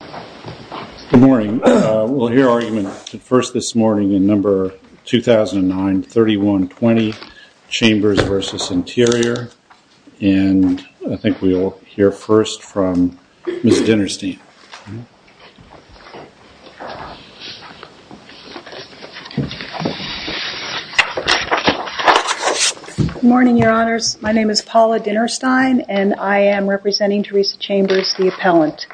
Good morning. We'll hear argument first this morning in number 2009-31-20, Chambers v. Interior, and I think we'll hear first from Ms. Dinerstein. Good morning, your honors. My name is Paula Dinerstein, and I am representing Teresa Chambers, the appellant.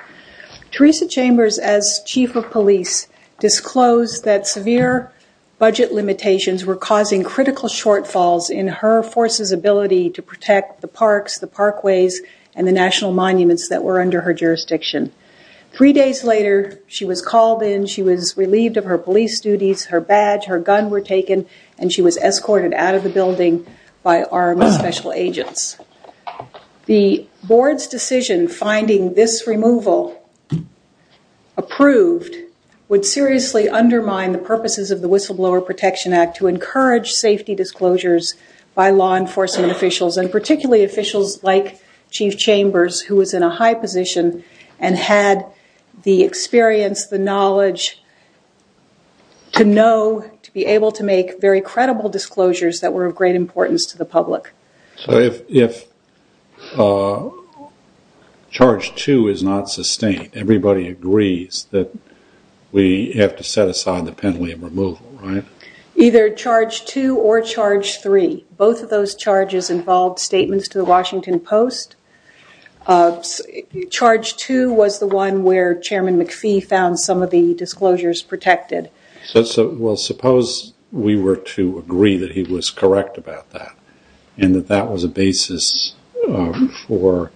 Teresa Chambers, as chief of police, disclosed that severe budget limitations were causing critical shortfalls in her force's ability to protect the parks, the parkways, and the national monuments that were under her jurisdiction. Three days later, she was called in, she was relieved of her police duties, her badge, her gun were taken, and she was escorted out of the building by armed special agents. The board's decision finding this removal approved would seriously undermine the purposes of the Whistleblower Protection Act to encourage safety disclosures by law enforcement officials, and particularly officials like Chief Chambers, who was in a high position and had the experience, the knowledge to know, to be able to make very credible disclosures that were of great importance to the public. So if Charge 2 is not sustained, everybody agrees that we have to set aside the penalty of removal, right? Either Charge 2 or Charge 3. Both of those charges involved statements to the Washington Post. Charge 2 was the one where Chairman McPhee found some of the disclosures protected. Well, suppose we were to agree that he was correct about that, and that that was a basis for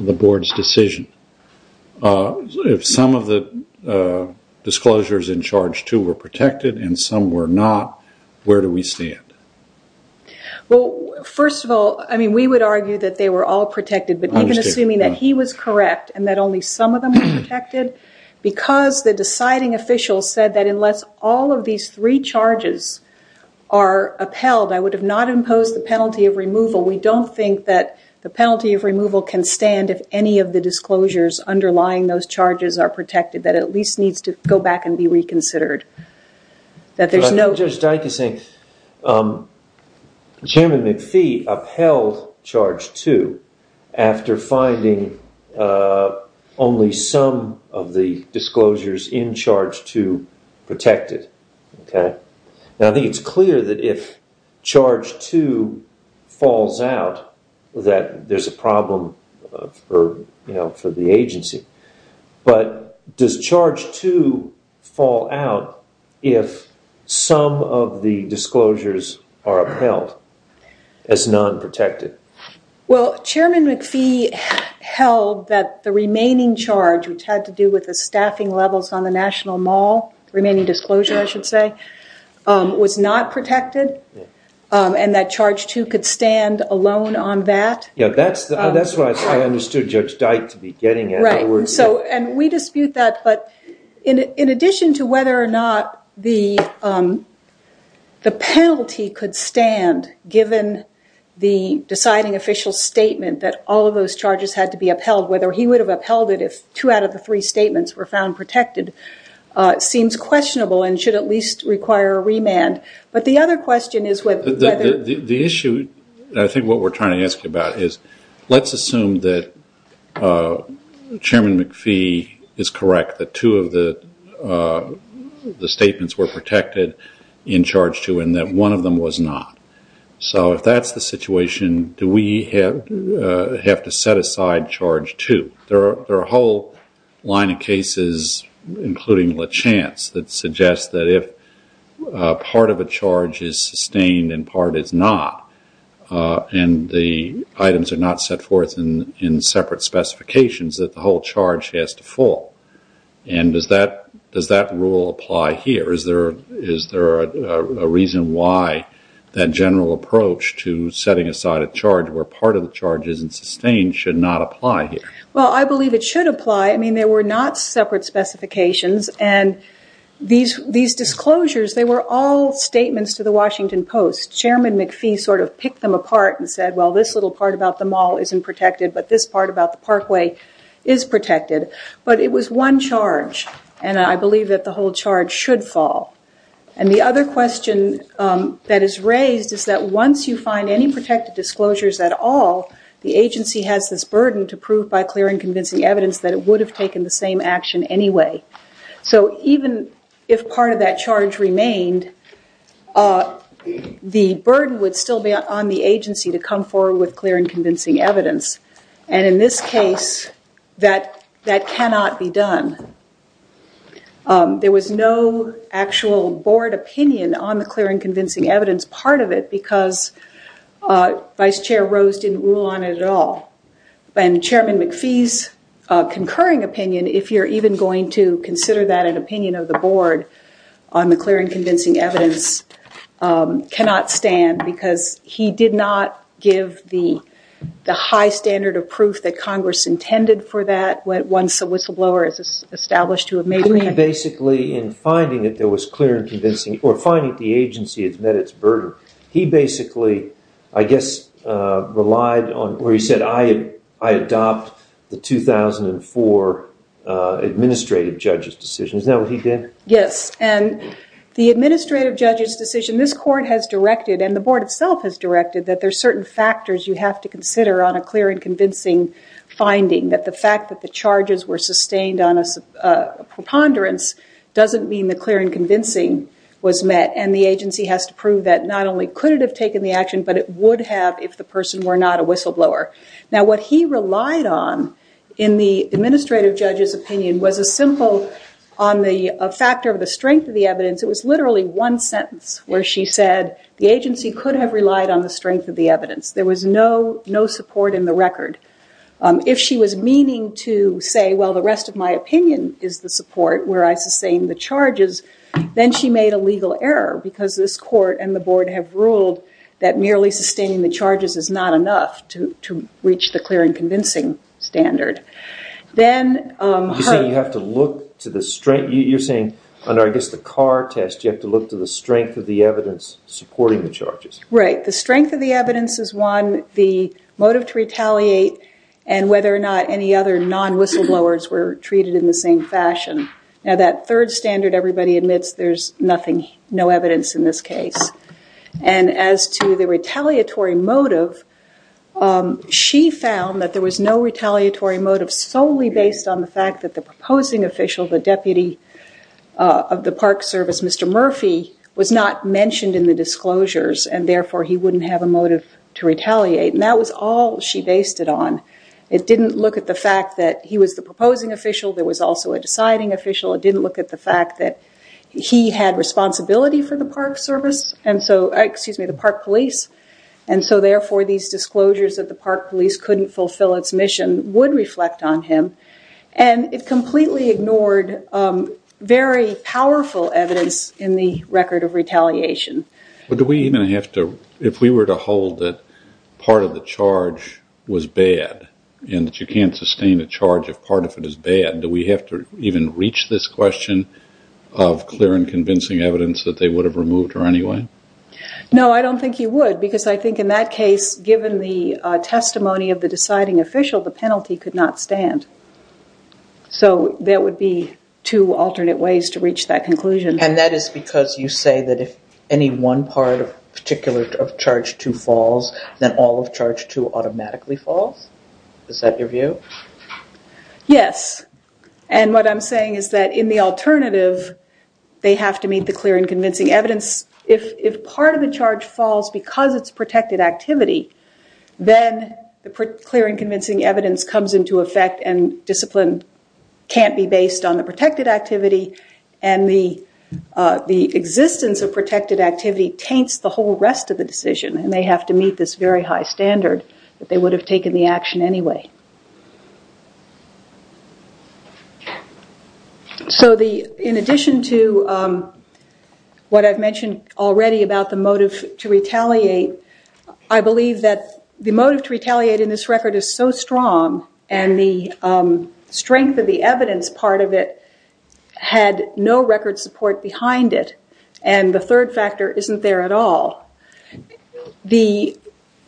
the board's decision. If some of the disclosures in Charge 2 were protected and some were not, where do we stand? Well, first of all, I mean, we would argue that they were all protected, but even assuming that he was correct and that only some of them were protected, because the deciding official said that unless all of these three charges are upheld, I would have not imposed the penalty of removal. We don't think that the penalty of removal can stand if any of the disclosures underlying those charges are protected, that at least needs to go back and be reconsidered. Judge Dike is saying Chairman McPhee upheld Charge 2 after finding only some of the disclosures in Charge 2 protected. Now, I think it's clear that if Charge 2 falls out that there's a problem for the agency, but does Charge 2 fall out if some of the disclosures are upheld as non-protected? Well, Chairman McPhee held that the remaining charge, which had to do with the staffing levels on the National Mall, remaining disclosure I should say, was not protected, and that Charge 2 could stand alone on that. Yeah, that's what I understood Judge Dike to be getting at. Right, and we dispute that, but in addition to whether or not the penalty could stand given the deciding official's statement that all of those charges had to be upheld, whether he would have upheld it if two out of the three statements were found protected, seems questionable and should at least require a remand. The issue, I think what we're trying to ask about is, let's assume that Chairman McPhee is correct that two of the statements were protected in Charge 2 and that one of them was not. So if that's the situation, do we have to set aside Charge 2? There are a whole line of cases, including LeChance, that suggests that if part of a charge is sustained and part is not, and the items are not set forth in separate specifications, that the whole charge has to fall. And does that rule apply here? Is there a reason why that general approach to setting aside a charge where part of the charge isn't sustained should not apply here? Well, I believe it should apply. I mean, there were not separate specifications, and these disclosures, they were all statements to the Washington Post. Chairman McPhee sort of picked them apart and said, well, this little part about the mall isn't protected, but this part about the parkway is protected. But it was one charge, and I believe that the whole charge should fall. And the other question that is raised is that once you find any protected disclosures at all, the agency has this burden to prove by clear and convincing evidence that it would have taken the same action anyway. So even if part of that charge remained, the burden would still be on the agency to come forward with clear and convincing evidence. And in this case, that cannot be done. There was no actual board opinion on the clear and convincing evidence part of it because Vice Chair Rose didn't rule on it at all. And Chairman McPhee's concurring opinion, if you're even going to consider that an opinion of the board on the clear and convincing evidence, cannot stand because he did not give the high standard of proof that Congress intended for that once a whistleblower is established to have made a claim. He basically, in finding that there was clear and convincing, or finding that the agency had met its burden, he basically, I guess, relied on, or he said, I adopt the 2004 administrative judge's decision. Isn't that what he did? Yes. And the administrative judge's decision, this court has directed, and the board itself has directed, that there's certain factors you have to consider on a clear and convincing finding. That the fact that the charges were sustained on a preponderance doesn't mean the clear and convincing was met. And the agency has to prove that not only could it have taken the action, but it would have if the person were not a whistleblower. Now, what he relied on in the administrative judge's opinion was a simple, on the factor of the strength of the evidence, it was literally one sentence where she said, the agency could have relied on the strength of the evidence. There was no support in the record. If she was meaning to say, well, the rest of my opinion is the support, where I sustain the charges, then she made a legal error, because this court and the board have ruled that merely sustaining the charges is not enough to reach the clear and convincing standard. You're saying, under, I guess, the Carr test, you have to look to the strength of the evidence supporting the charges. Right. The strength of the evidence is one, the motive to retaliate, and whether or not any other non-whistleblowers were treated in the same fashion. Now, that third standard, everybody admits, there's nothing, no evidence in this case. As to the retaliatory motive, she found that there was no retaliatory motive solely based on the fact that the proposing official, the deputy of the Park Service, Mr. Murphy, was not mentioned in the disclosures, and therefore he wouldn't have a motive to retaliate. That was all she based it on. It didn't look at the fact that he was the proposing official, there was also a deciding official, it didn't look at the fact that he had responsibility for the Park Service, excuse me, the Park Police, and so therefore these disclosures that the Park Police couldn't fulfill its mission would reflect on him, and it completely ignored very powerful evidence in the record of retaliation. But do we even have to, if we were to hold that part of the charge was bad, and that you can't sustain a charge if part of it is bad, do we have to even reach this question of clear and convincing evidence that they would have removed her anyway? No, I don't think you would, because I think in that case, given the testimony of the deciding official, the penalty could not stand. So, there would be two alternate ways to reach that conclusion. And that is because you say that if any one part of charge two falls, then all of charge two automatically falls? Is that your view? Yes, and what I'm saying is that in the alternative, they have to meet the clear and convincing evidence. If part of the charge falls because it's protected activity, then the clear and convincing evidence comes into effect and discipline can't be based on the protected activity, and the existence of protected activity taints the whole rest of the decision, and they have to meet this very high standard that they would have taken the action anyway. So, in addition to what I've mentioned already about the motive to retaliate, I believe that the motive to retaliate in this record is so strong, and the strength of the evidence part of it had no record support behind it, and the third factor isn't there at all. The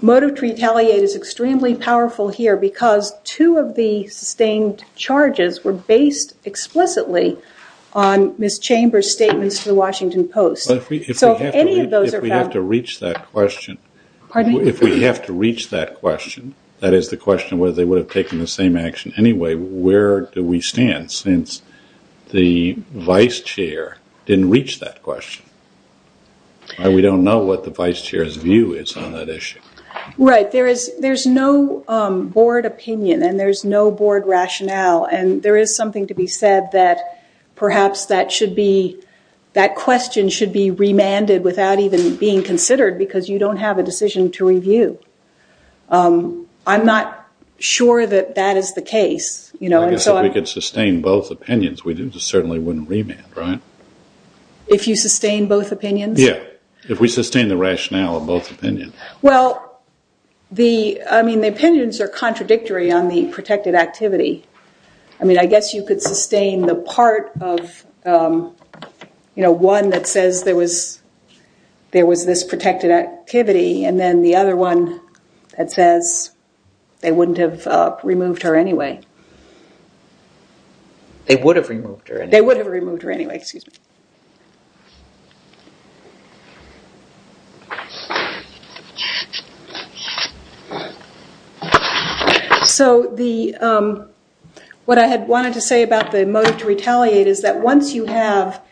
motive to retaliate is extremely powerful here because two of the sustained charges were based explicitly on Ms. Chambers' statements to the Washington Post. If we have to reach that question, that is the question whether they would have taken the same action anyway, where do we stand since the vice chair didn't reach that question? We don't know what the vice chair's view is on that issue. Right. There's no board opinion, and there's no board rationale, and there is something to be said that perhaps that question should be remanded without even being considered because you don't have a decision to review. I'm not sure that that is the case. I guess if we could sustain both opinions, we certainly wouldn't remand, right? If you sustain both opinions? Yeah. If we sustain the rationale of both opinions. Well, the opinions are contradictory on the protected activity. I guess you could sustain the part of one that says there was this protected activity, and then the other one that says they wouldn't have removed her anyway. They would have removed her anyway. They would have removed her anyway, excuse me. So, what I had wanted to say about the motive to retaliate is that once you have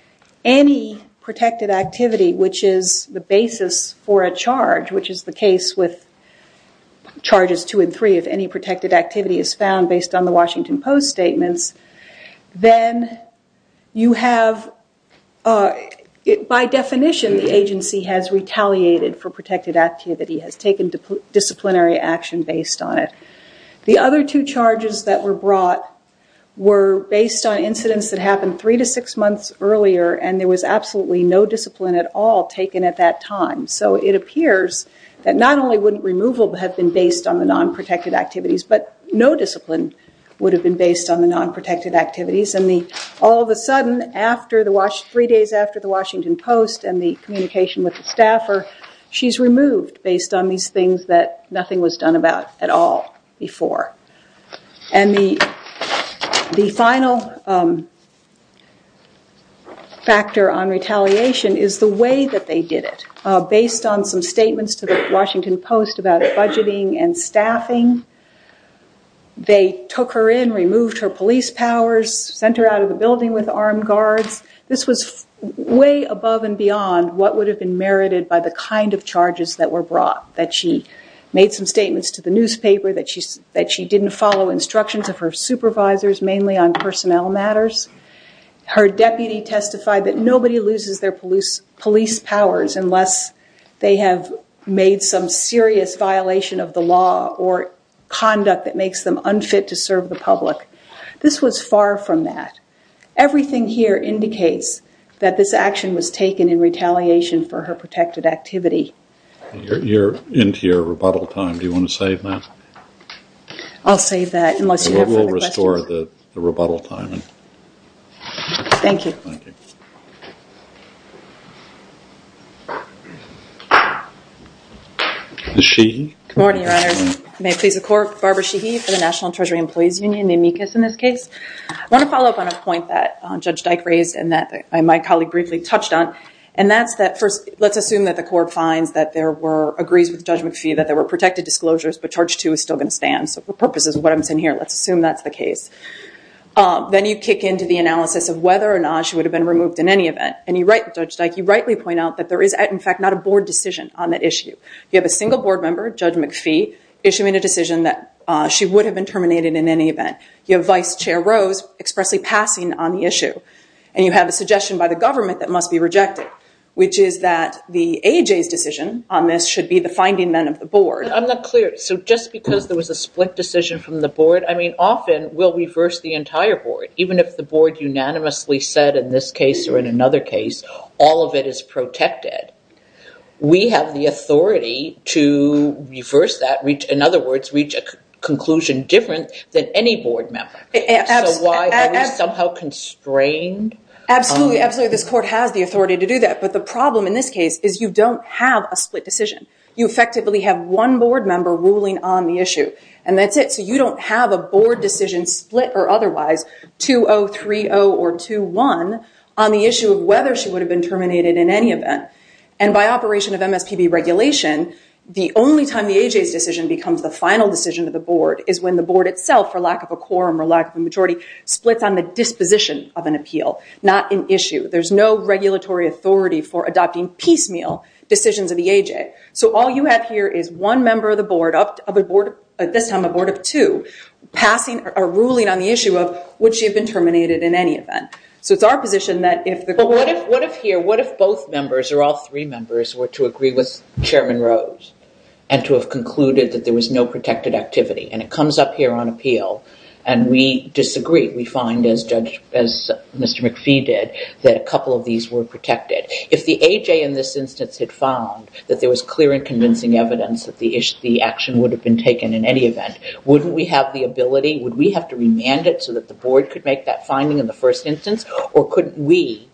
any protected activity, which is the basis for a charge, which is the case with charges two and three, if any protected activity is found based on the Washington Post statements, then you have, by definition, the agency has retaliated for protected activity, has taken disciplinary action based on it. The other two charges that were brought were based on incidents that happened three to six months earlier, and there was absolutely no discipline at all taken at that time. So, it appears that not only wouldn't removal have been based on the non-protected activities, but no discipline would have been based on the non-protected activities, and all of a sudden, three days after the Washington Post and the communication with the staffer, she's removed based on these things that nothing was done about at all before. And the final factor on retaliation is the way that they did it. Based on some statements to the Washington Post about budgeting and staffing, they took her in, removed her police powers, sent her out of the building with armed guards. This was way above and beyond what would have been merited by the kind of charges that were brought, that she made some statements to the newspaper, that she didn't follow instructions of her supervisors, mainly on personnel matters. Her deputy testified that nobody loses their police powers unless they have made some serious violation of the law or conduct that makes them unfit to serve the public. This was far from that. Everything here indicates that this action was taken in retaliation for her protected activity. You're into your rebuttal time. Do you want to save that? I'll save that unless you have further questions. We'll restore the rebuttal time. Thank you. Good morning, Your Honors. May it please the Court, Barbara Sheehy for the National Treasury Employees Union, NAMICAS in this case. I want to follow up on a point that Judge Dyke raised and that my colleague briefly touched on. And that's that first, let's assume that the Court finds that there were, agrees with Judge McPhee that there were protected disclosures, but charge two is still going to stand. So for purposes of what I'm saying here, let's assume that's the case. Then you kick into the analysis of whether or not she would have been removed in any event. And you're right, Judge Dyke, you rightly point out that there is, in fact, not a board decision on that issue. You have a single board member, Judge McPhee, issuing a decision that she would have been terminated in any event. You have Vice Chair Rose expressly passing on the issue. And you have a suggestion by the government that must be rejected, which is that the AHA's decision on this should be the finding then of the board. I'm not clear. So just because there was a split decision from the board, I mean, often we'll reverse the entire board. Even if the board unanimously said in this case or in another case, all of it is protected. We have the authority to reverse that, in other words, reach a conclusion different than any board member. So why are we somehow constrained? Absolutely, absolutely. This court has the authority to do that. But the problem in this case is you don't have a split decision. You effectively have one board member ruling on the issue. And that's it. So you don't have a board decision split or otherwise, 2-0, 3-0 or 2-1, on the issue of whether she would have been terminated in any event. And by operation of MSPB regulation, the only time the AHA's decision becomes the final decision of the board is when the board itself, for lack of a quorum or lack of a majority, splits on the disposition of an appeal, not an issue. There's no regulatory authority for adopting piecemeal decisions of the AHA. So all you have here is one member of the board, at this time a board of two, passing a ruling on the issue of would she have been terminated in any event. So it's our position that if the court... But what if here, what if both members or all three members were to agree with Chairman Rose and to have concluded that there was no protected activity? And it comes up here on appeal, and we disagree. We find, as Mr. McPhee did, that a couple of these were protected. If the AHA in this instance had found that there was clear and convincing evidence that the action would have been taken in any event, wouldn't we have the ability, would we have to remand it so that the board could make that finding in the first instance? Or couldn't we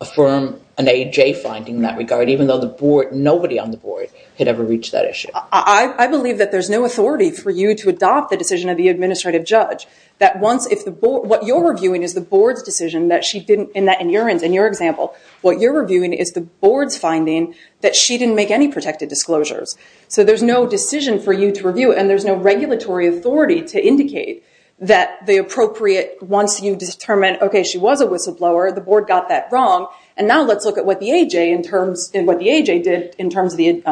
affirm an AHA finding in that regard, even though the board, nobody on the board, had ever reached that issue? I believe that there's no authority for you to adopt the decision of the administrative judge. That once if the board... What you're reviewing is the board's decision that she didn't... In your example, what you're reviewing is the board's finding that she didn't make any protected disclosures. So there's no decision for you to review, and there's no regulatory authority to indicate that the appropriate... Once you determine, okay, she was a whistleblower, the board got that wrong, and now let's look at what the AHA did in terms of the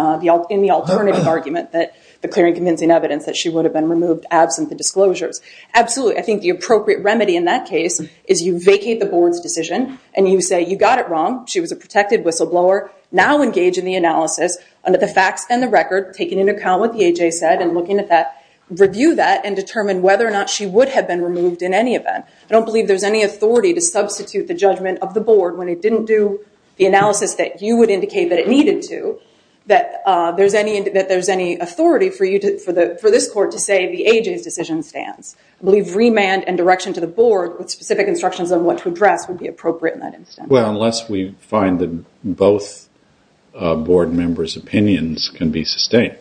alternative argument that the clear and convincing evidence that she would have been removed absent the disclosures. Absolutely. I think the appropriate remedy in that case is you vacate the board's decision, and you say, you got it wrong. She was a protected whistleblower. Now engage in the analysis under the facts and the record, taking into account what the AHA said and looking at that, review that and determine whether or not she would have been removed in any event. I don't believe there's any authority to substitute the judgment of the board when it didn't do the analysis that you would indicate that it needed to, that there's any authority for this court to say the AHA's decision stands. I believe remand and direction to the board with specific instructions on what to address would be appropriate in that instance. Well, unless we find that both board members' opinions can be sustained.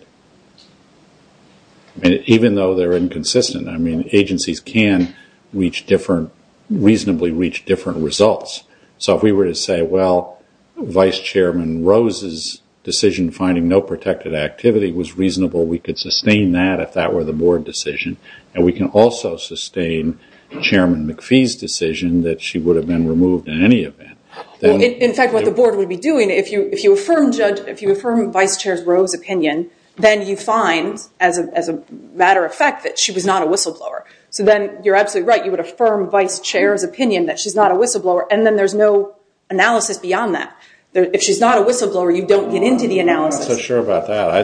Even though they're inconsistent, I mean, agencies can reasonably reach different results. So if we were to say, well, Vice Chairman Rose's decision finding no protected activity was reasonable, we could sustain that if that were the board decision, and we can also sustain Chairman McPhee's decision that she would have been removed in any event. In fact, what the board would be doing, if you affirm Vice Chair's Rose opinion, then you find as a matter of fact that she was not a whistleblower. So then you're absolutely right. You would affirm Vice Chair's opinion that she's not a whistleblower, and then there's no analysis beyond that. If she's not a whistleblower, you don't get into the analysis. I'm not so sure about that. I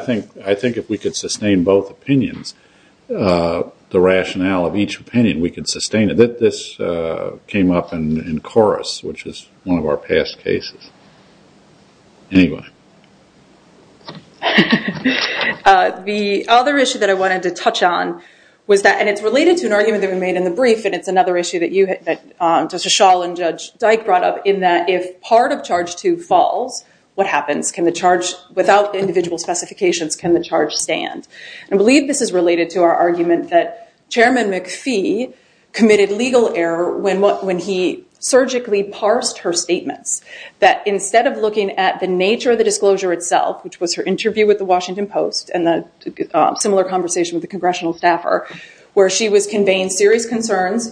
think if we could sustain both opinions, the rationale of each opinion, we could sustain it. This came up in Chorus, which is one of our past cases. Anyway. The other issue that I wanted to touch on was that, and it's related to an argument that we made in the brief, and it's another issue that Justice Schall and Judge Dyke brought up, in that if part of Charge 2 falls, what happens? Can the charge, without individual specifications, can the charge stand? I believe this is related to our argument that Chairman McPhee committed legal error when he surgically parsed her statements, that instead of looking at the nature of the disclosure itself, which was her interview with the Washington Post and the similar conversation with the congressional staffer, where she was conveying serious concerns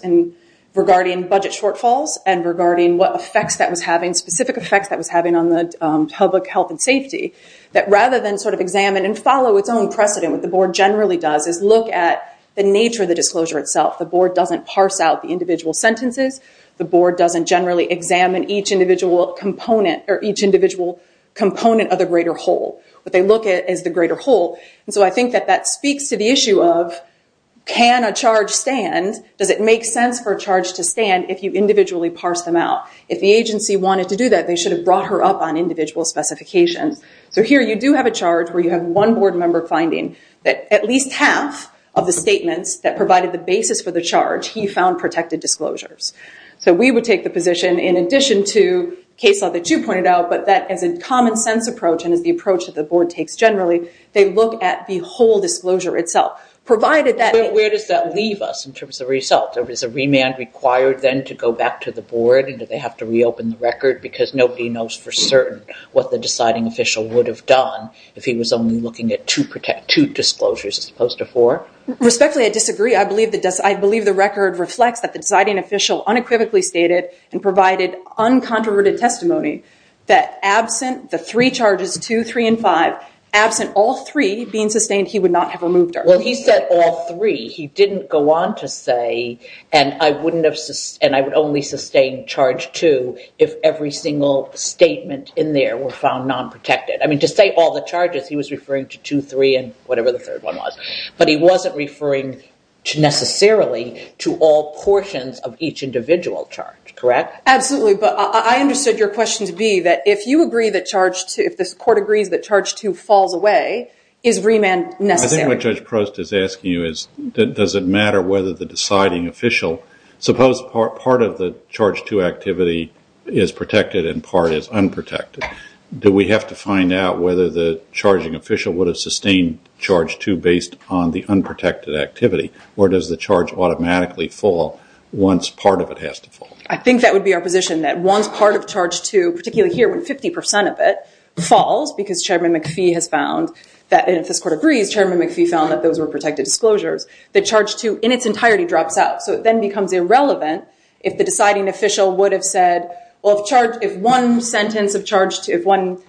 regarding budget shortfalls and regarding what specific effects that was having on the public health and safety, that rather than examine and follow its own precedent, what the Board generally does is look at the nature of the disclosure itself. The Board doesn't parse out the individual sentences. The Board doesn't generally examine each individual component of the greater whole. What they look at is the greater whole. I think that that speaks to the issue of, can a charge stand? Does it make sense for a charge to stand if you individually parse them out? If the agency wanted to do that, they should have brought her up on individual specifications. So here you do have a charge where you have one Board member finding that at least half of the statements that provided the basis for the charge, he found protected disclosures. So we would take the position, in addition to case law that you pointed out, but that as a common-sense approach and as the approach that the Board takes generally, they look at the whole disclosure itself. Where does that leave us in terms of results? Is a remand required then to go back to the Board and do they have to reopen the record? Because nobody knows for certain what the deciding official would have done if he was only looking at two disclosures as opposed to four. Respectfully, I disagree. I believe the record reflects that the deciding official unequivocally stated and provided uncontroverted testimony that absent the three charges, two, three, and five, absent all three being sustained, he would not have removed her. Well, he said all three. He didn't go on to say, and I would only sustain charge two if every single statement in there were found non-protected. I mean, to say all the charges, he was referring to two, three, and whatever the third one was. But he wasn't referring necessarily to all portions of each individual charge, correct? Absolutely. But I understood your question to be that if you agree that charge two, if this Court agrees that charge two falls away, is remand necessary? I think what Judge Prost is asking you is, does it matter whether the deciding official, suppose part of the charge two activity is protected and part is unprotected. Do we have to find out whether the charging official would have sustained charge two based on the unprotected activity? Or does the charge automatically fall once part of it has to fall? I think that would be our position, that once part of charge two, particularly here when 50% of it falls, because Chairman McPhee has found that, and if this Court agrees, Chairman McPhee found that those were protected disclosures, that charge two in its entirety drops out. So it then becomes irrelevant if the deciding official would have said, well, if one sentence of charge two, if one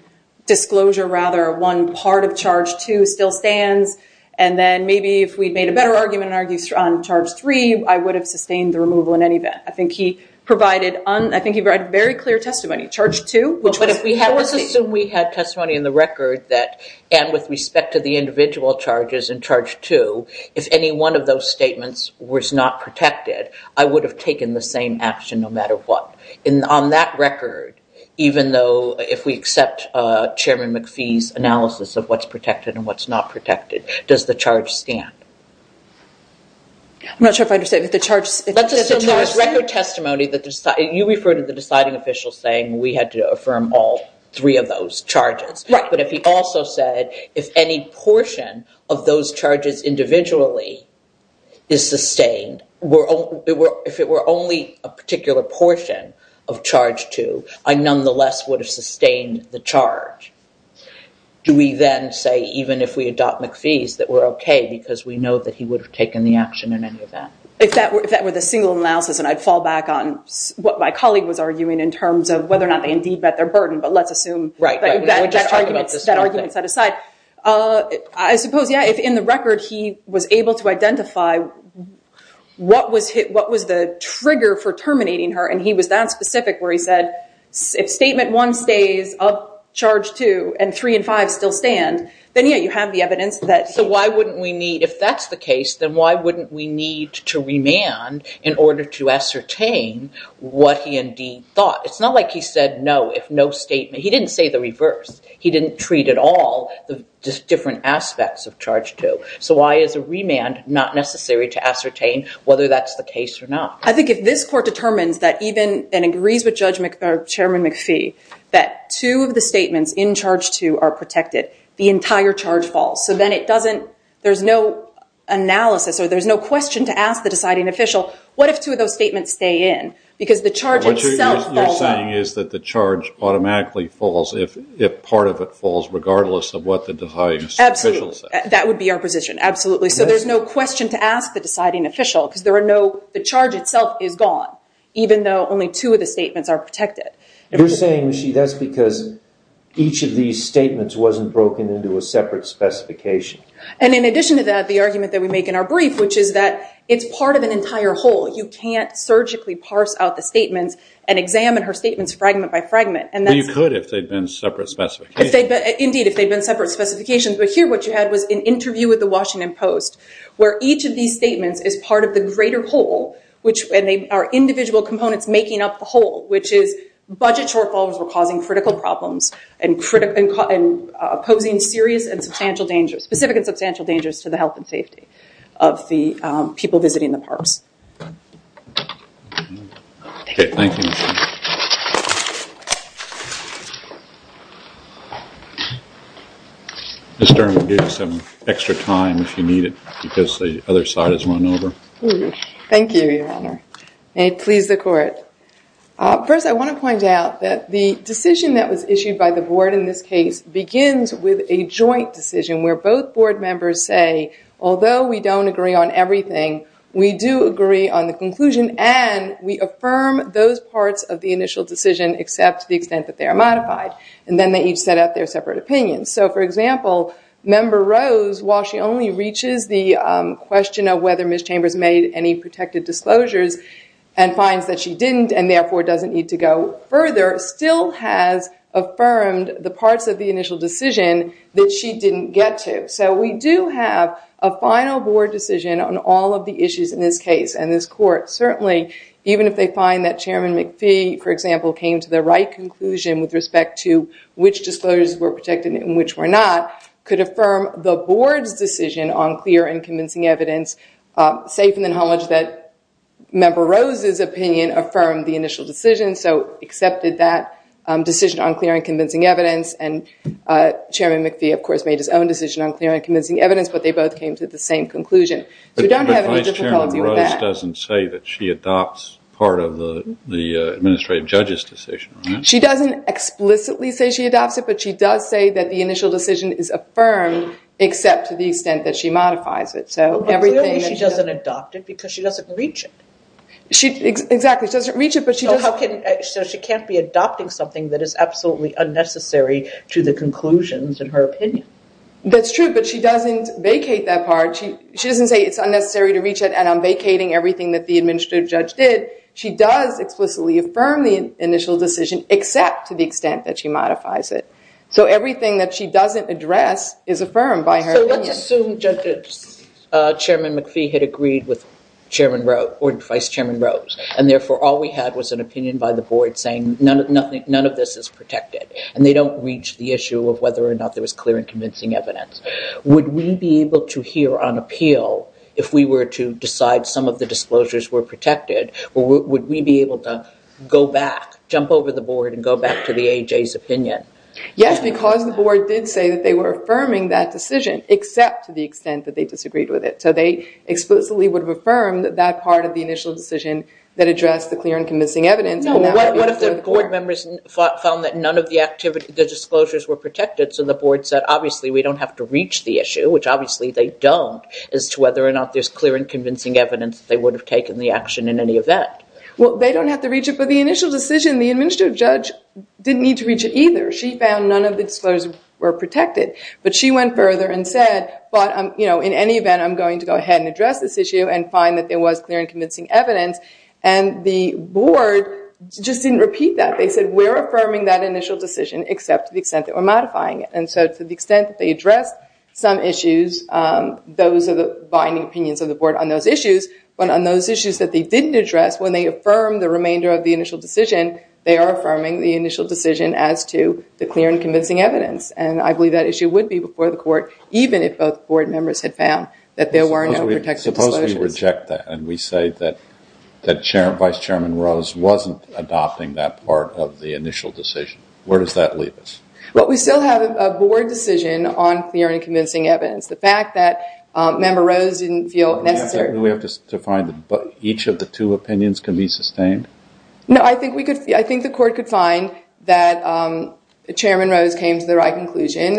disclosure, rather, one part of charge two still stands, and then maybe if we'd made a better argument and argued on charge three, I would have sustained the removal in any event. I think he provided, I think he provided very clear testimony. Let's assume we had testimony in the record that, and with respect to the individual charges in charge two, if any one of those statements was not protected, I would have taken the same action no matter what. And on that record, even though if we accept Chairman McPhee's analysis of what's protected and what's not protected, does the charge stand? I'm not sure if I understand. Let's assume there was record testimony. You refer to the deciding official saying we had to affirm all three of those charges. But if he also said if any portion of those charges individually is sustained, if it were only a particular portion of charge two, I nonetheless would have sustained the charge. Do we then say, even if we adopt McPhee's, that we're okay because we know that he would have taken the action in any event? If that were the single analysis, and I'd fall back on what my colleague was arguing in terms of whether or not they indeed met their burden, but let's assume that argument set aside. I suppose, yeah, if in the record he was able to identify what was the trigger for terminating her, and he was that specific where he said if statement one stays of charge two and three and five still stand, then, yeah, you have the evidence that he... So why wouldn't we need, if that's the case, then why wouldn't we need to remand in order to ascertain what he indeed thought? It's not like he said no if no statement. He didn't say the reverse. He didn't treat at all the different aspects of charge two. So why is a remand not necessary to ascertain whether that's the case or not? I think if this court determines that even, and agrees with Chairman McPhee, that two of the statements in charge two are protected, the entire charge falls. So then it doesn't, there's no analysis or there's no question to ask the deciding official, what if two of those statements stay in? Because the charge itself falls. What you're saying is that the charge automatically falls if part of it falls regardless of what the deciding official says. Absolutely. That would be our position. Absolutely. So there's no question to ask the deciding official because there are no, the charge itself is gone, even though only two of the statements are protected. You're saying, Michie, that's because each of these statements wasn't broken into a separate specification. And in addition to that, the argument that we make in our brief, which is that it's part of an entire whole. You can't surgically parse out the statements and examine her statements fragment by fragment. You could if they'd been separate specifications. Indeed, if they'd been separate specifications. But here what you had was an interview with the Washington Post where each of these statements is part of the greater whole, which are individual components making up the whole, which is budget shortfalls were causing critical problems and opposing serious and substantial dangers, specific and substantial dangers to the health and safety of the people visiting the parks. Thank you. Mr. Give some extra time if you need it because the other side is run over. Thank you. May it please the court. First, I want to point out that the decision that was issued by the board in this case begins with a joint decision where both board members say, although we don't agree on everything, we do agree on the conclusion. And we affirm those parts of the initial decision, except to the extent that they are modified. And then they each set up their separate opinions. So, for example, member Rose, while she only reaches the question of whether Miss Chambers made any protected disclosures and finds that she didn't, and therefore doesn't need to go further, still has affirmed the parts of the initial decision that she didn't get to. So we do have a final board decision on all of the issues in this case. And this court certainly, even if they find that Chairman McPhee, for example, came to the right conclusion with respect to which disclosures were protected and which were not, could affirm the board's decision on clear and convincing evidence, safe in the knowledge that member Rose's opinion affirmed the initial decision, so accepted that decision on clear and convincing evidence. And Chairman McPhee, of course, made his own decision on clear and convincing evidence, but they both came to the same conclusion. So we don't have any difficulty with that. But Vice-Chairman Rose doesn't say that she adopts part of the administrative judge's decision, right? She doesn't explicitly say she adopts it, but she does say that the initial decision is affirmed, except to the extent that she modifies it. But clearly she doesn't adopt it because she doesn't reach it. Exactly, she doesn't reach it, but she does. So she can't be adopting something that is absolutely unnecessary to the conclusions in her opinion. That's true, but she doesn't vacate that part. She doesn't say it's unnecessary to reach it, and I'm vacating everything that the administrative judge did. She does explicitly affirm the initial decision, except to the extent that she modifies it. So everything that she doesn't address is affirmed by her opinion. So let's assume Chairman McPhee had agreed with Vice-Chairman Rose, and therefore all we had was an opinion by the board saying none of this is protected, and they don't reach the issue of whether or not there was clear and convincing evidence. Would we be able to hear on appeal if we were to decide some of the disclosures were protected, or would we be able to go back, jump over the board, and go back to the AJ's opinion? Yes, because the board did say that they were affirming that decision, except to the extent that they disagreed with it. So they explicitly would affirm that that part of the initial decision that addressed the clear and convincing evidence. No, what if the board members found that none of the disclosures were protected, so the board said obviously we don't have to reach the issue, which obviously they don't, as to whether or not there's clear and convincing evidence that they would have taken the action in any event? Well, they don't have to reach it, but the initial decision, the administrative judge didn't need to reach it either. She found none of the disclosures were protected, but she went further and said, but in any event, I'm going to go ahead and address this issue and find that there was clear and convincing evidence, and the board just didn't repeat that. They said we're affirming that initial decision, except to the extent that we're modifying it, and so to the extent that they addressed some issues, those are the binding opinions of the board on those issues, but on those issues that they didn't address, when they affirmed the remainder of the initial decision, they are affirming the initial decision as to the clear and convincing evidence, and I believe that issue would be before the court, even if both board members had found that there were no protected disclosures. Suppose we reject that and we say that Vice Chairman Rose wasn't adopting that part of the initial decision. Where does that leave us? Well, we still have a board decision on clear and convincing evidence. The fact that Member Rose didn't feel necessary. Do we have to find that each of the two opinions can be sustained? No, I think the court could find that Chairman Rose came to the right conclusion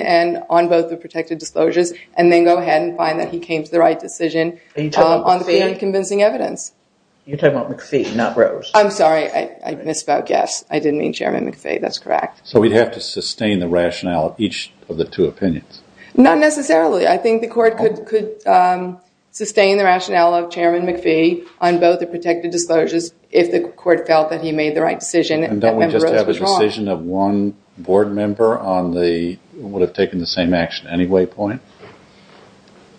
on both the protected disclosures, and then go ahead and find that he came to the right decision on clear and convincing evidence. You're talking about McPhee, not Rose. I'm sorry, I misspoke. Yes, I did mean Chairman McPhee. That's correct. So we'd have to sustain the rationale of each of the two opinions. Not necessarily. I think the court could sustain the rationale of Chairman McPhee on both the protected disclosures if the court felt that he made the right decision. And don't we just have a decision of one board member on the would have taken the same action anyway point?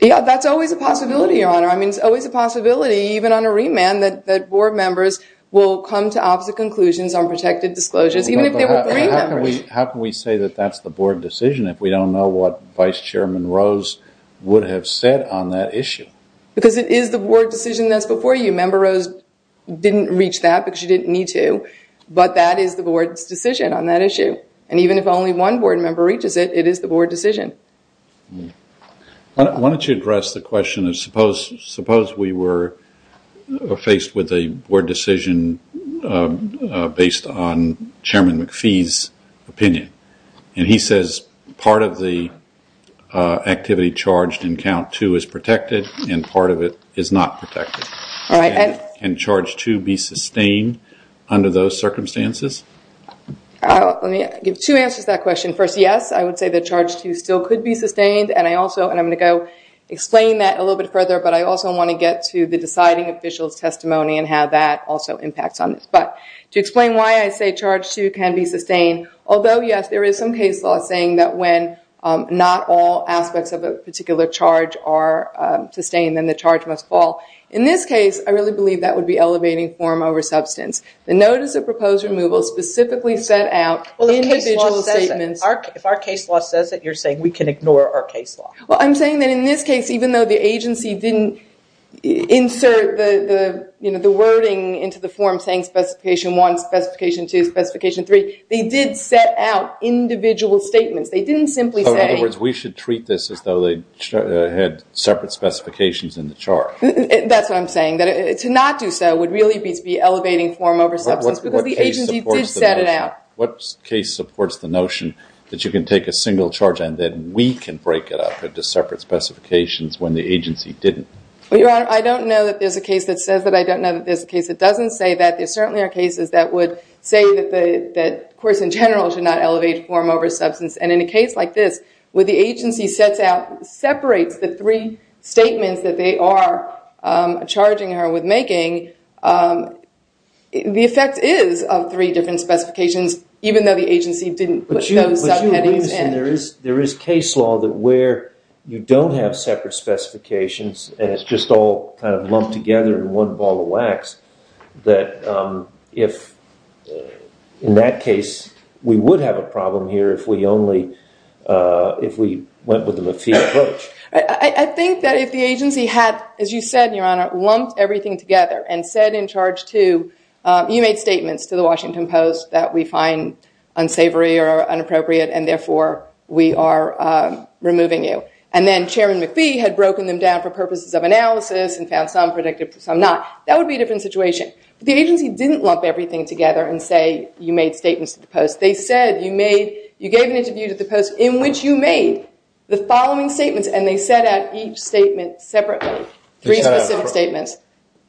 Yeah, that's always a possibility, Your Honor. I mean, it's always a possibility, even on a remand, that board members will come to opposite conclusions on protected disclosures, even if they were three members. How can we say that that's the board decision if we don't know what Vice Chairman Rose would have said on that issue? Because it is the board decision that's before you. Member Rose didn't reach that because she didn't need to, but that is the board's decision on that issue. And even if only one board member reaches it, it is the board decision. Why don't you address the question of suppose we were faced with a board decision based on Chairman McPhee's opinion? And he says part of the activity charged in count two is protected and part of it is not protected. Can charge two be sustained under those circumstances? I'll give two answers to that question. First, yes, I would say that charge two still could be sustained, and I'm going to go explain that a little bit further, but I also want to get to the deciding official's testimony and how that also impacts on this. But to explain why I say charge two can be sustained, although, yes, there is some case law saying that when not all aspects of a particular charge are sustained, then the charge must fall. In this case, I really believe that would be elevating form over substance. The notice of proposed removal specifically set out individual statements. If our case law says it, you're saying we can ignore our case law? Well, I'm saying that in this case, even though the agency didn't insert the wording into the form saying specification one, specification two, specification three, they did set out individual statements. They didn't simply say. In other words, we should treat this as though they had separate specifications in the charge. That's what I'm saying, that to not do so would really be to be elevating form over substance because the agency did set it out. What case supports the notion that you can take a single charge and then we can break it up into separate specifications when the agency didn't? Well, Your Honor, I don't know that there's a case that says that. I don't know that there's a case that doesn't say that. There certainly are cases that would say that, of course, in general should not elevate form over substance. And in a case like this, where the agency sets out, separates the three statements that they are charging her with making, the effect is of three different specifications, even though the agency didn't put those subheadings in. There is case law that where you don't have separate specifications, and it's just all kind of lumped together in one ball of wax, that if, in that case, we would have a problem here if we only, if we went with the McPhee approach. I think that if the agency had, as you said, Your Honor, lumped everything together and said in charge to, you made statements to the Washington Post that we find unsavory or inappropriate and therefore we are removing you. And then Chairman McPhee had broken them down for purposes of analysis and found some predictive, some not. That would be a different situation. The agency didn't lump everything together and say you made statements to the Post. They said you made, you gave an interview to the Post in which you made the following statements, and they set out each statement separately, three specific statements.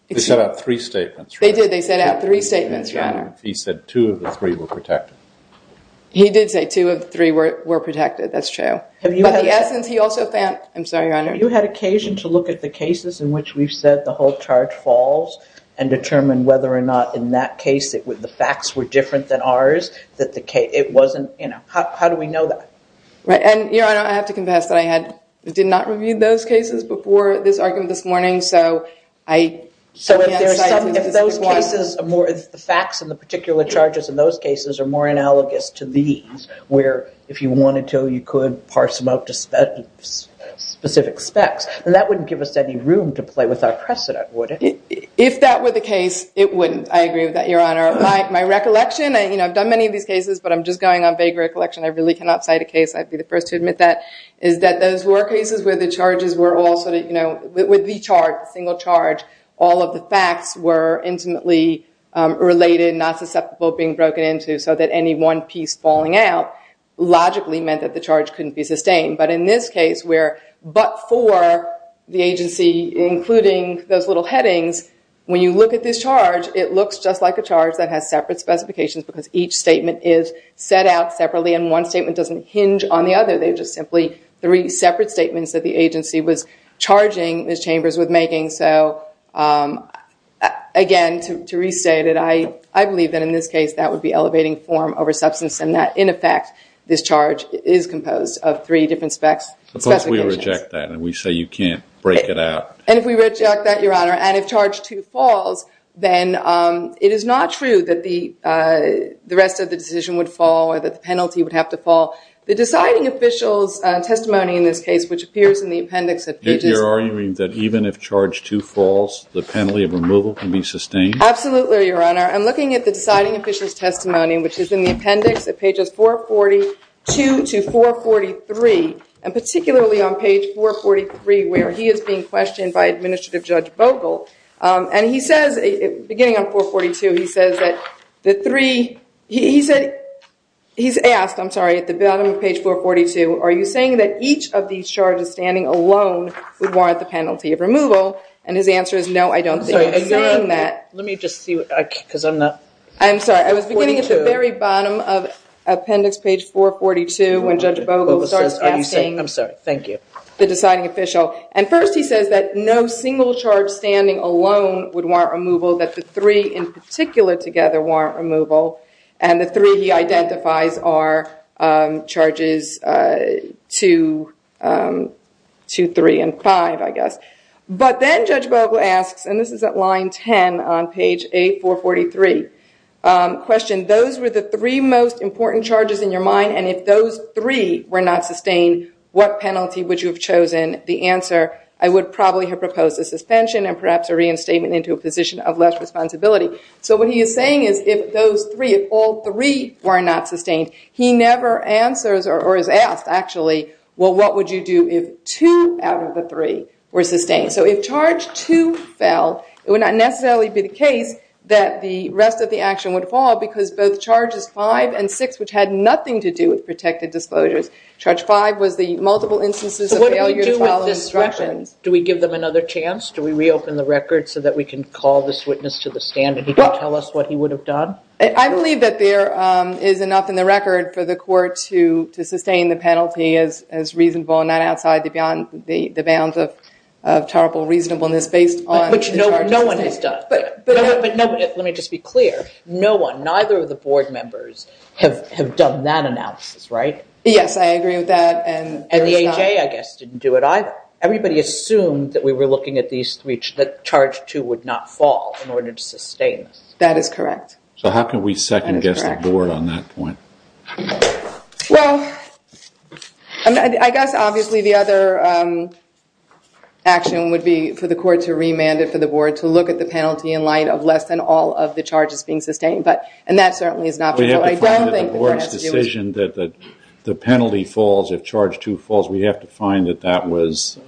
They set out three statements. They did. They set out three statements, Your Honor. He said two of the three were protected. He did say two of the three were protected. That's true. But the essence, he also found, I'm sorry, Your Honor. You had occasion to look at the cases in which we've said the whole charge falls and determine whether or not in that case the facts were different than ours, that the case, it wasn't, you know. How do we know that? Right. And, Your Honor, I have to confess that I had, did not review those cases before this argument this morning, so I. So if those cases are more, if the facts in the particular charges in those cases are more analogous to these, where if you wanted to, you could parse them out to specific specs, then that wouldn't give us any room to play with our precedent, would it? If that were the case, it wouldn't. I agree with that, Your Honor. My recollection, you know, I've done many of these cases, but I'm just going on vague recollection. I really cannot cite a case. I'd be the first to admit that, is that those were cases where the charges were all sort of, you know, with the charge, single charge, all of the facts were intimately related, not susceptible, being broken into, so that any one piece falling out logically meant that the charge couldn't be sustained. But in this case, where but for the agency, including those little headings, when you look at this charge, it looks just like a charge that has separate specifications because each statement is set out separately and one statement doesn't hinge on the other. They're just simply three separate statements that the agency was charging its chambers with making. So, again, to restate it, I believe that in this case that would be elevating form over substance and that, in effect, this charge is composed of three different specifications. Suppose we reject that and we say you can't break it out. And if we reject that, Your Honor, and if charge two falls, then it is not true that the rest of the decision would fall or that the penalty would have to fall. The deciding official's testimony in this case, which appears in the appendix that pages... Are you agreeing that even if charge two falls, the penalty of removal can be sustained? Absolutely, Your Honor. I'm looking at the deciding official's testimony, which is in the appendix at pages 442 to 443, and particularly on page 443 where he is being questioned by Administrative Judge Vogel. And he says, beginning on 442, he says that the three... He's asked, I'm sorry, at the bottom of page 442, are you saying that each of these charges standing alone would warrant the penalty of removal? And his answer is, no, I don't think he's saying that. Let me just see, because I'm not... I'm sorry, I was beginning at the very bottom of appendix page 442 when Judge Vogel starts asking the deciding official. And first he says that no single charge standing alone would warrant removal, that the three in particular together warrant removal. And the three he identifies are charges 2, 3, and 5, I guess. But then Judge Vogel asks, and this is at line 10 on page 8443, question, those were the three most important charges in your mind, and if those three were not sustained, what penalty would you have chosen? The answer, I would probably have proposed a suspension and perhaps a reinstatement into a position of less responsibility. So what he is saying is if those three, if all three were not sustained, he never answers or is asked, actually, well, what would you do if two out of the three were sustained? So if charge 2 fell, it would not necessarily be the case that the rest of the action would fall because both charges 5 and 6, which had nothing to do with protected disclosures, charge 5 was the multiple instances of failure to follow instructions. So what do we do with this record? Do we give them another chance? Do we reopen the record so that we can call this witness to the stand and he can tell us what he would have done? I believe that there is enough in the record for the court to sustain the penalty as reasonable and not outside the bounds of terrible reasonableness based on the charges. Which no one has done. Let me just be clear, no one, neither of the board members have done that analysis, right? Yes, I agree with that. And the AJ, I guess, didn't do it either. Everybody assumed that we were looking at these three, that charge 2 would not fall in order to sustain this. That is correct. So how can we second-guess the board on that point? Well, I guess, obviously, the other action would be for the court to remand it for the board to look at the penalty in light of less than all of the charges being sustained, and that certainly is not what I don't think the court has to do. We have to find that the board's decision that the penalty falls if charge 2 falls, we have to find that that was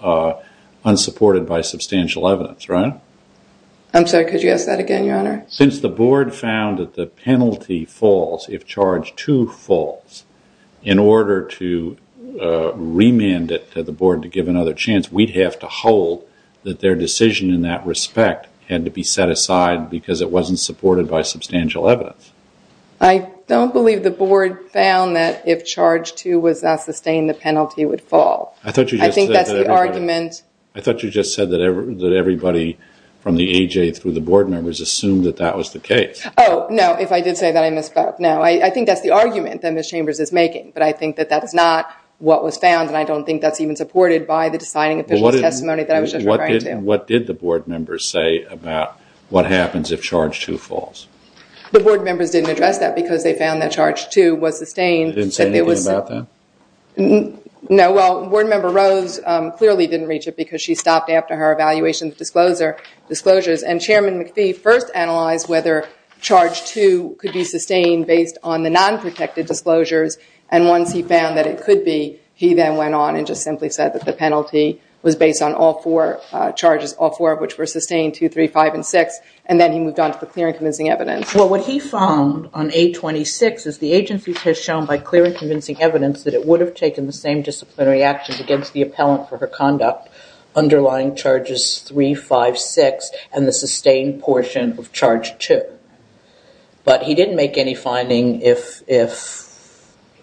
unsupported by substantial evidence, right? I'm sorry, could you ask that again, Your Honor? Since the board found that the penalty falls if charge 2 falls, in order to remand it to the board to give another chance, we'd have to hold that their decision in that respect had to be set aside because it wasn't supported by substantial evidence. I don't believe the board found that if charge 2 was not sustained, the penalty would fall. I thought you just said that everybody from the AJ through the board members assumed that that was the case. Oh, no, if I did say that, I misspoke. No, I think that's the argument that Ms. Chambers is making, but I think that that's not what was found, and I don't think that's even supported by the deciding official's testimony that I was just referring to. What did the board members say about what happens if charge 2 falls? The board members didn't address that because they found that charge 2 was sustained. They didn't say anything about that? No, well, Board Member Rose clearly didn't reach it because she stopped after her evaluation of disclosures, and Chairman McPhee first analyzed whether charge 2 could be sustained based on the non-protected disclosures, and once he found that it could be, he then went on and just simply said that the penalty was based on all four charges, all four of which were sustained, 2, 3, 5, and 6, and then he moved on to the clear and convincing evidence. Well, what he found on 826 is the agency has shown by clear and convincing evidence that it would have taken the same disciplinary actions against the appellant for her conduct, underlying charges 3, 5, 6, and the sustained portion of charge 2, but he didn't make any finding if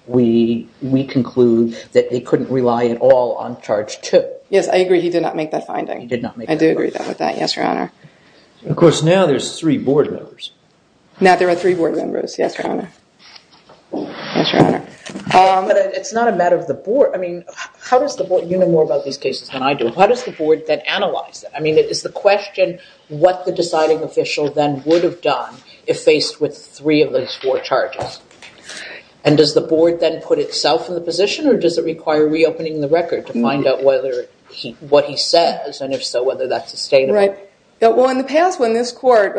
we conclude that they couldn't rely at all on charge 2. Yes, I agree he did not make that finding. He did not make that finding. I do agree with that, yes, Your Honor. Of course, now there's three board members. Now there are three board members, yes, Your Honor. Yes, Your Honor. But it's not a matter of the board. I mean, you know more about these cases than I do. How does the board then analyze it? I mean, it's the question what the deciding official then would have done if faced with three of those four charges, and does the board then put itself in the position, or does it require reopening the record to find out what he says, and if so, whether that's sustainable? Right. Well, in the past when this court,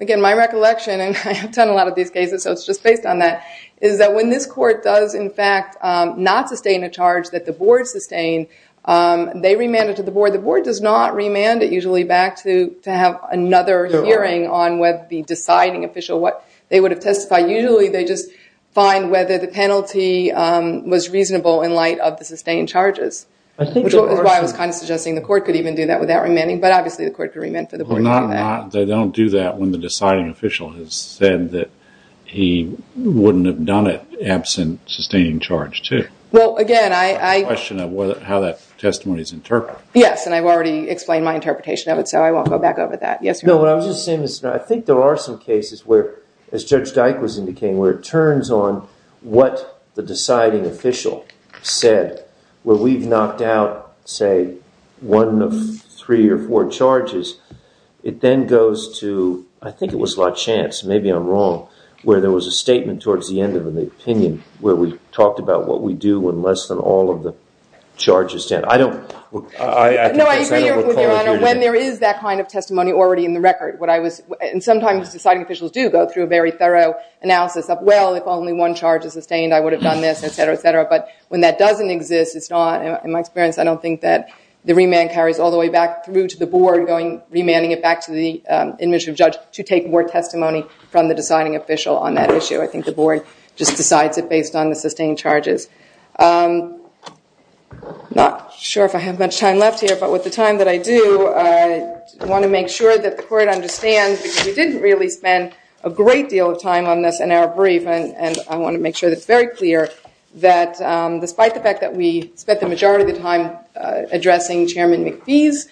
again, my recollection, and I have done a lot of these cases, so it's just based on that, is that when this court does, in fact, not sustain a charge that the board sustained, they remand it to the board. The board does not remand it usually back to have another hearing on whether the deciding official, what they would have testified. Usually they just find whether the penalty was reasonable in light of the sustained charges, which is why I was kind of suggesting the court could even do that without remanding, but obviously the court could remand for the board to do that. They don't do that when the deciding official has said that he wouldn't have done it absent sustaining charge, too. Well, again, I... It's a question of how that testimony is interpreted. Yes, and I've already explained my interpretation of it, so I won't go back over that. No, what I was just saying is I think there are some cases where, as Judge Dyke was indicating, where it turns on what the deciding official said, where we've knocked out, say, one of three or four charges. It then goes to, I think it was La Chance, maybe I'm wrong, where there was a statement towards the end of the opinion where we talked about what we do when less than all of the charges stand. I don't... No, I agree with you, Your Honor, when there is that kind of testimony already in the record, and sometimes deciding officials do go through a very thorough analysis of, well, if only one charge is sustained, I would have done this, et cetera, et cetera, but when that doesn't exist, it's not... In my experience, I don't think that the remand carries all the way back through to the board, remanding it back to the administrative judge to take more testimony from the deciding official on that issue. I think the board just decides it based on the sustained charges. I'm not sure if I have much time left here, but with the time that I do, I want to make sure that the court understands that we didn't really spend a great deal of time on this in our brief, and I want to make sure that it's very clear that, despite the fact that we spent the majority of the time addressing Chairman McPhee's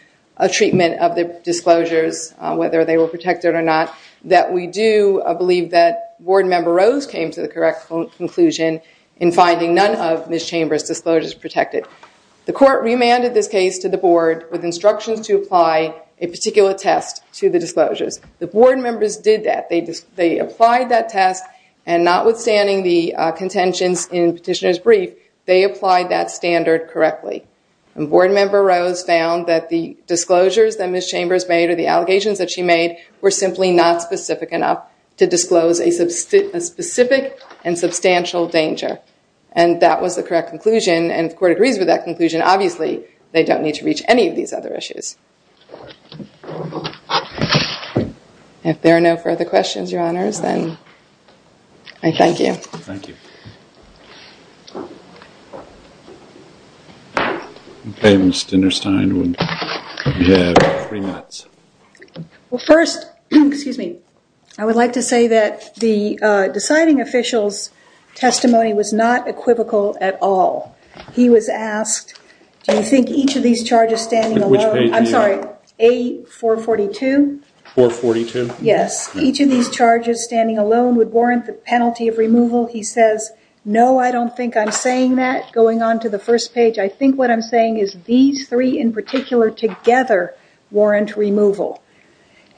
treatment of the disclosures, whether they were protected or not, that we do believe that Board Member Rose came to the correct conclusion in finding none of Ms. Chambers' disclosures protected. The court remanded this case to the board with instructions to apply a particular test to the disclosures. The board members did that. They applied that test, and notwithstanding the contentions in Petitioner's brief, they applied that standard correctly, and Board Member Rose found that the disclosures that Ms. Chambers made or the allegations that she made were simply not specific enough to disclose a specific and substantial danger, and that was the correct conclusion, and if the court agrees with that conclusion, obviously they don't need to reach any of these other issues. If there are no further questions, Your Honors, then I thank you. Thank you. Okay, Ms. Dinnerstein, you have three minutes. Well, first, I would like to say that the deciding official's testimony was not equivocal at all. He was asked, do you think each of these charges standing alone would warrant the penalty of removal? He says, no, I don't think I'm saying that, going on to the first page. I think what I'm saying is these three in particular together warrant removal,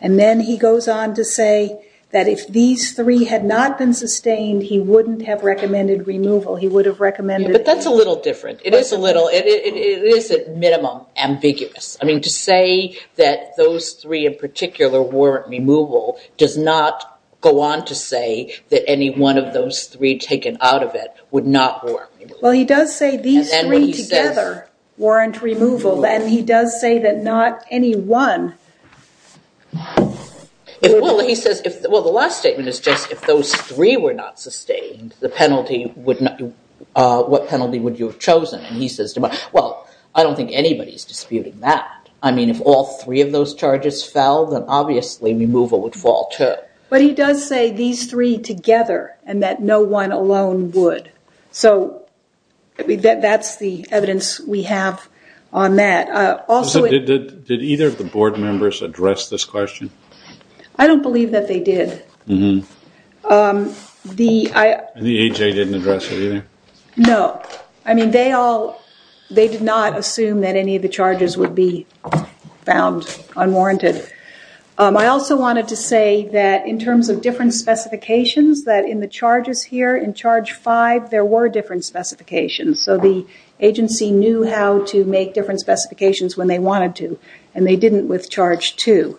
and then he goes on to say that if these three had not been sustained, he wouldn't have recommended removal. He would have recommended... But that's a little different. It is a little. It is, at minimum, ambiguous. I mean, to say that those three in particular warrant removal does not go on to say that any one of those three taken out of it would not warrant removal. Well, he does say these three together warrant removal, and he does say that not any one... Well, the last statement is just if those three were not sustained, what penalty would you have chosen? And he says, well, I don't think anybody's disputing that. I mean, if all three of those charges fell, then obviously removal would fall, too. But he does say these three together and that no one alone would. So that's the evidence we have on that. Also... Did either of the board members address this question? I don't believe that they did. Mm-hmm. The... And the AJ didn't address it either? No. I mean, they all... They did not assume that any of the charges would be found unwarranted. I also wanted to say that in terms of different specifications, that in the charges here, in Charge 5, there were different specifications. So the agency knew how to make different specifications when they wanted to, and they didn't with Charge 2.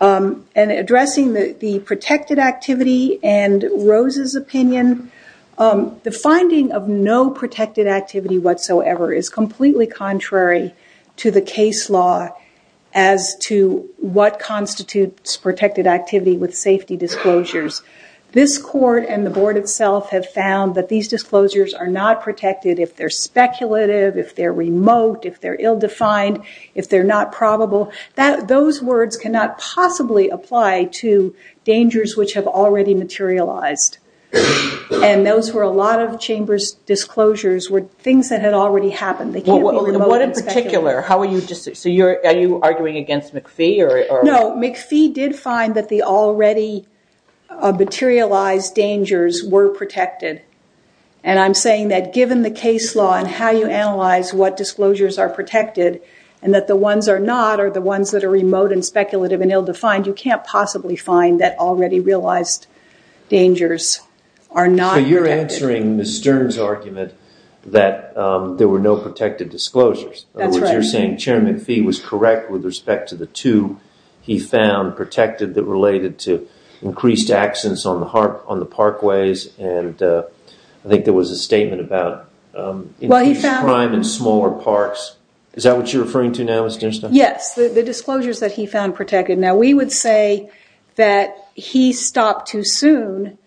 And addressing the protected activity and Rose's opinion, the finding of no protected activity whatsoever is completely contrary to the case law as to what constitutes protected activity with safety disclosures. This court and the board itself have found that these disclosures are not protected if they're speculative, if they're remote, if they're ill-defined, if they're not probable. Those words cannot possibly apply to dangers which have already materialized. And those were a lot of chambers' disclosures were things that had already happened. What in particular? How are you... So are you arguing against McPhee? No, McPhee did find that the already materialized dangers were protected. And I'm saying that given the case law and how you analyze what disclosures are protected and that the ones are not are the ones that are remote and speculative and ill-defined, you can't possibly find that already realized dangers are not protected. You're answering Ms. Stern's argument that there were no protected disclosures. That's right. In other words, you're saying Chairman McPhee was correct with respect to the two he found protected that related to increased accidents on the parkways and I think there was a statement about increased crime in smaller parks. Is that what you're referring to now, Ms. Sternstein? Yes, the disclosures that he found protected. Now, we would say that he stopped too soon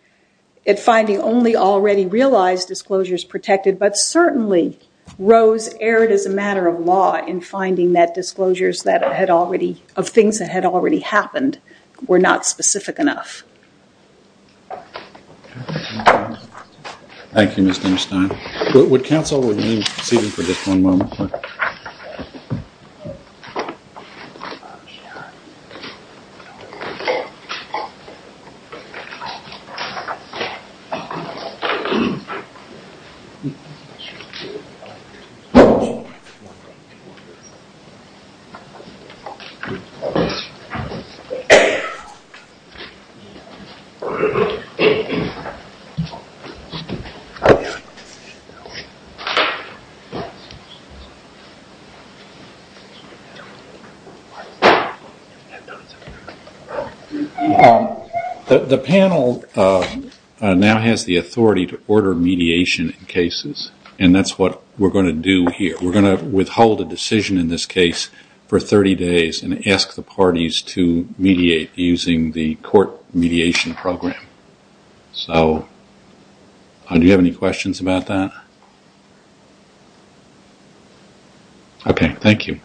at finding only already realized disclosures protected, but certainly Rose erred as a matter of law in finding that disclosures of things that had already happened were not specific enough. Thank you, Ms. Sternstein. Would counsel remain seated for just one moment? The panel now has the authority to order mediation in cases and that's what we're going to do here. We're going to withhold a decision in this case for 30 days and ask the parties to mediate using the court mediation program. Do you have any questions about that? Okay, thank you.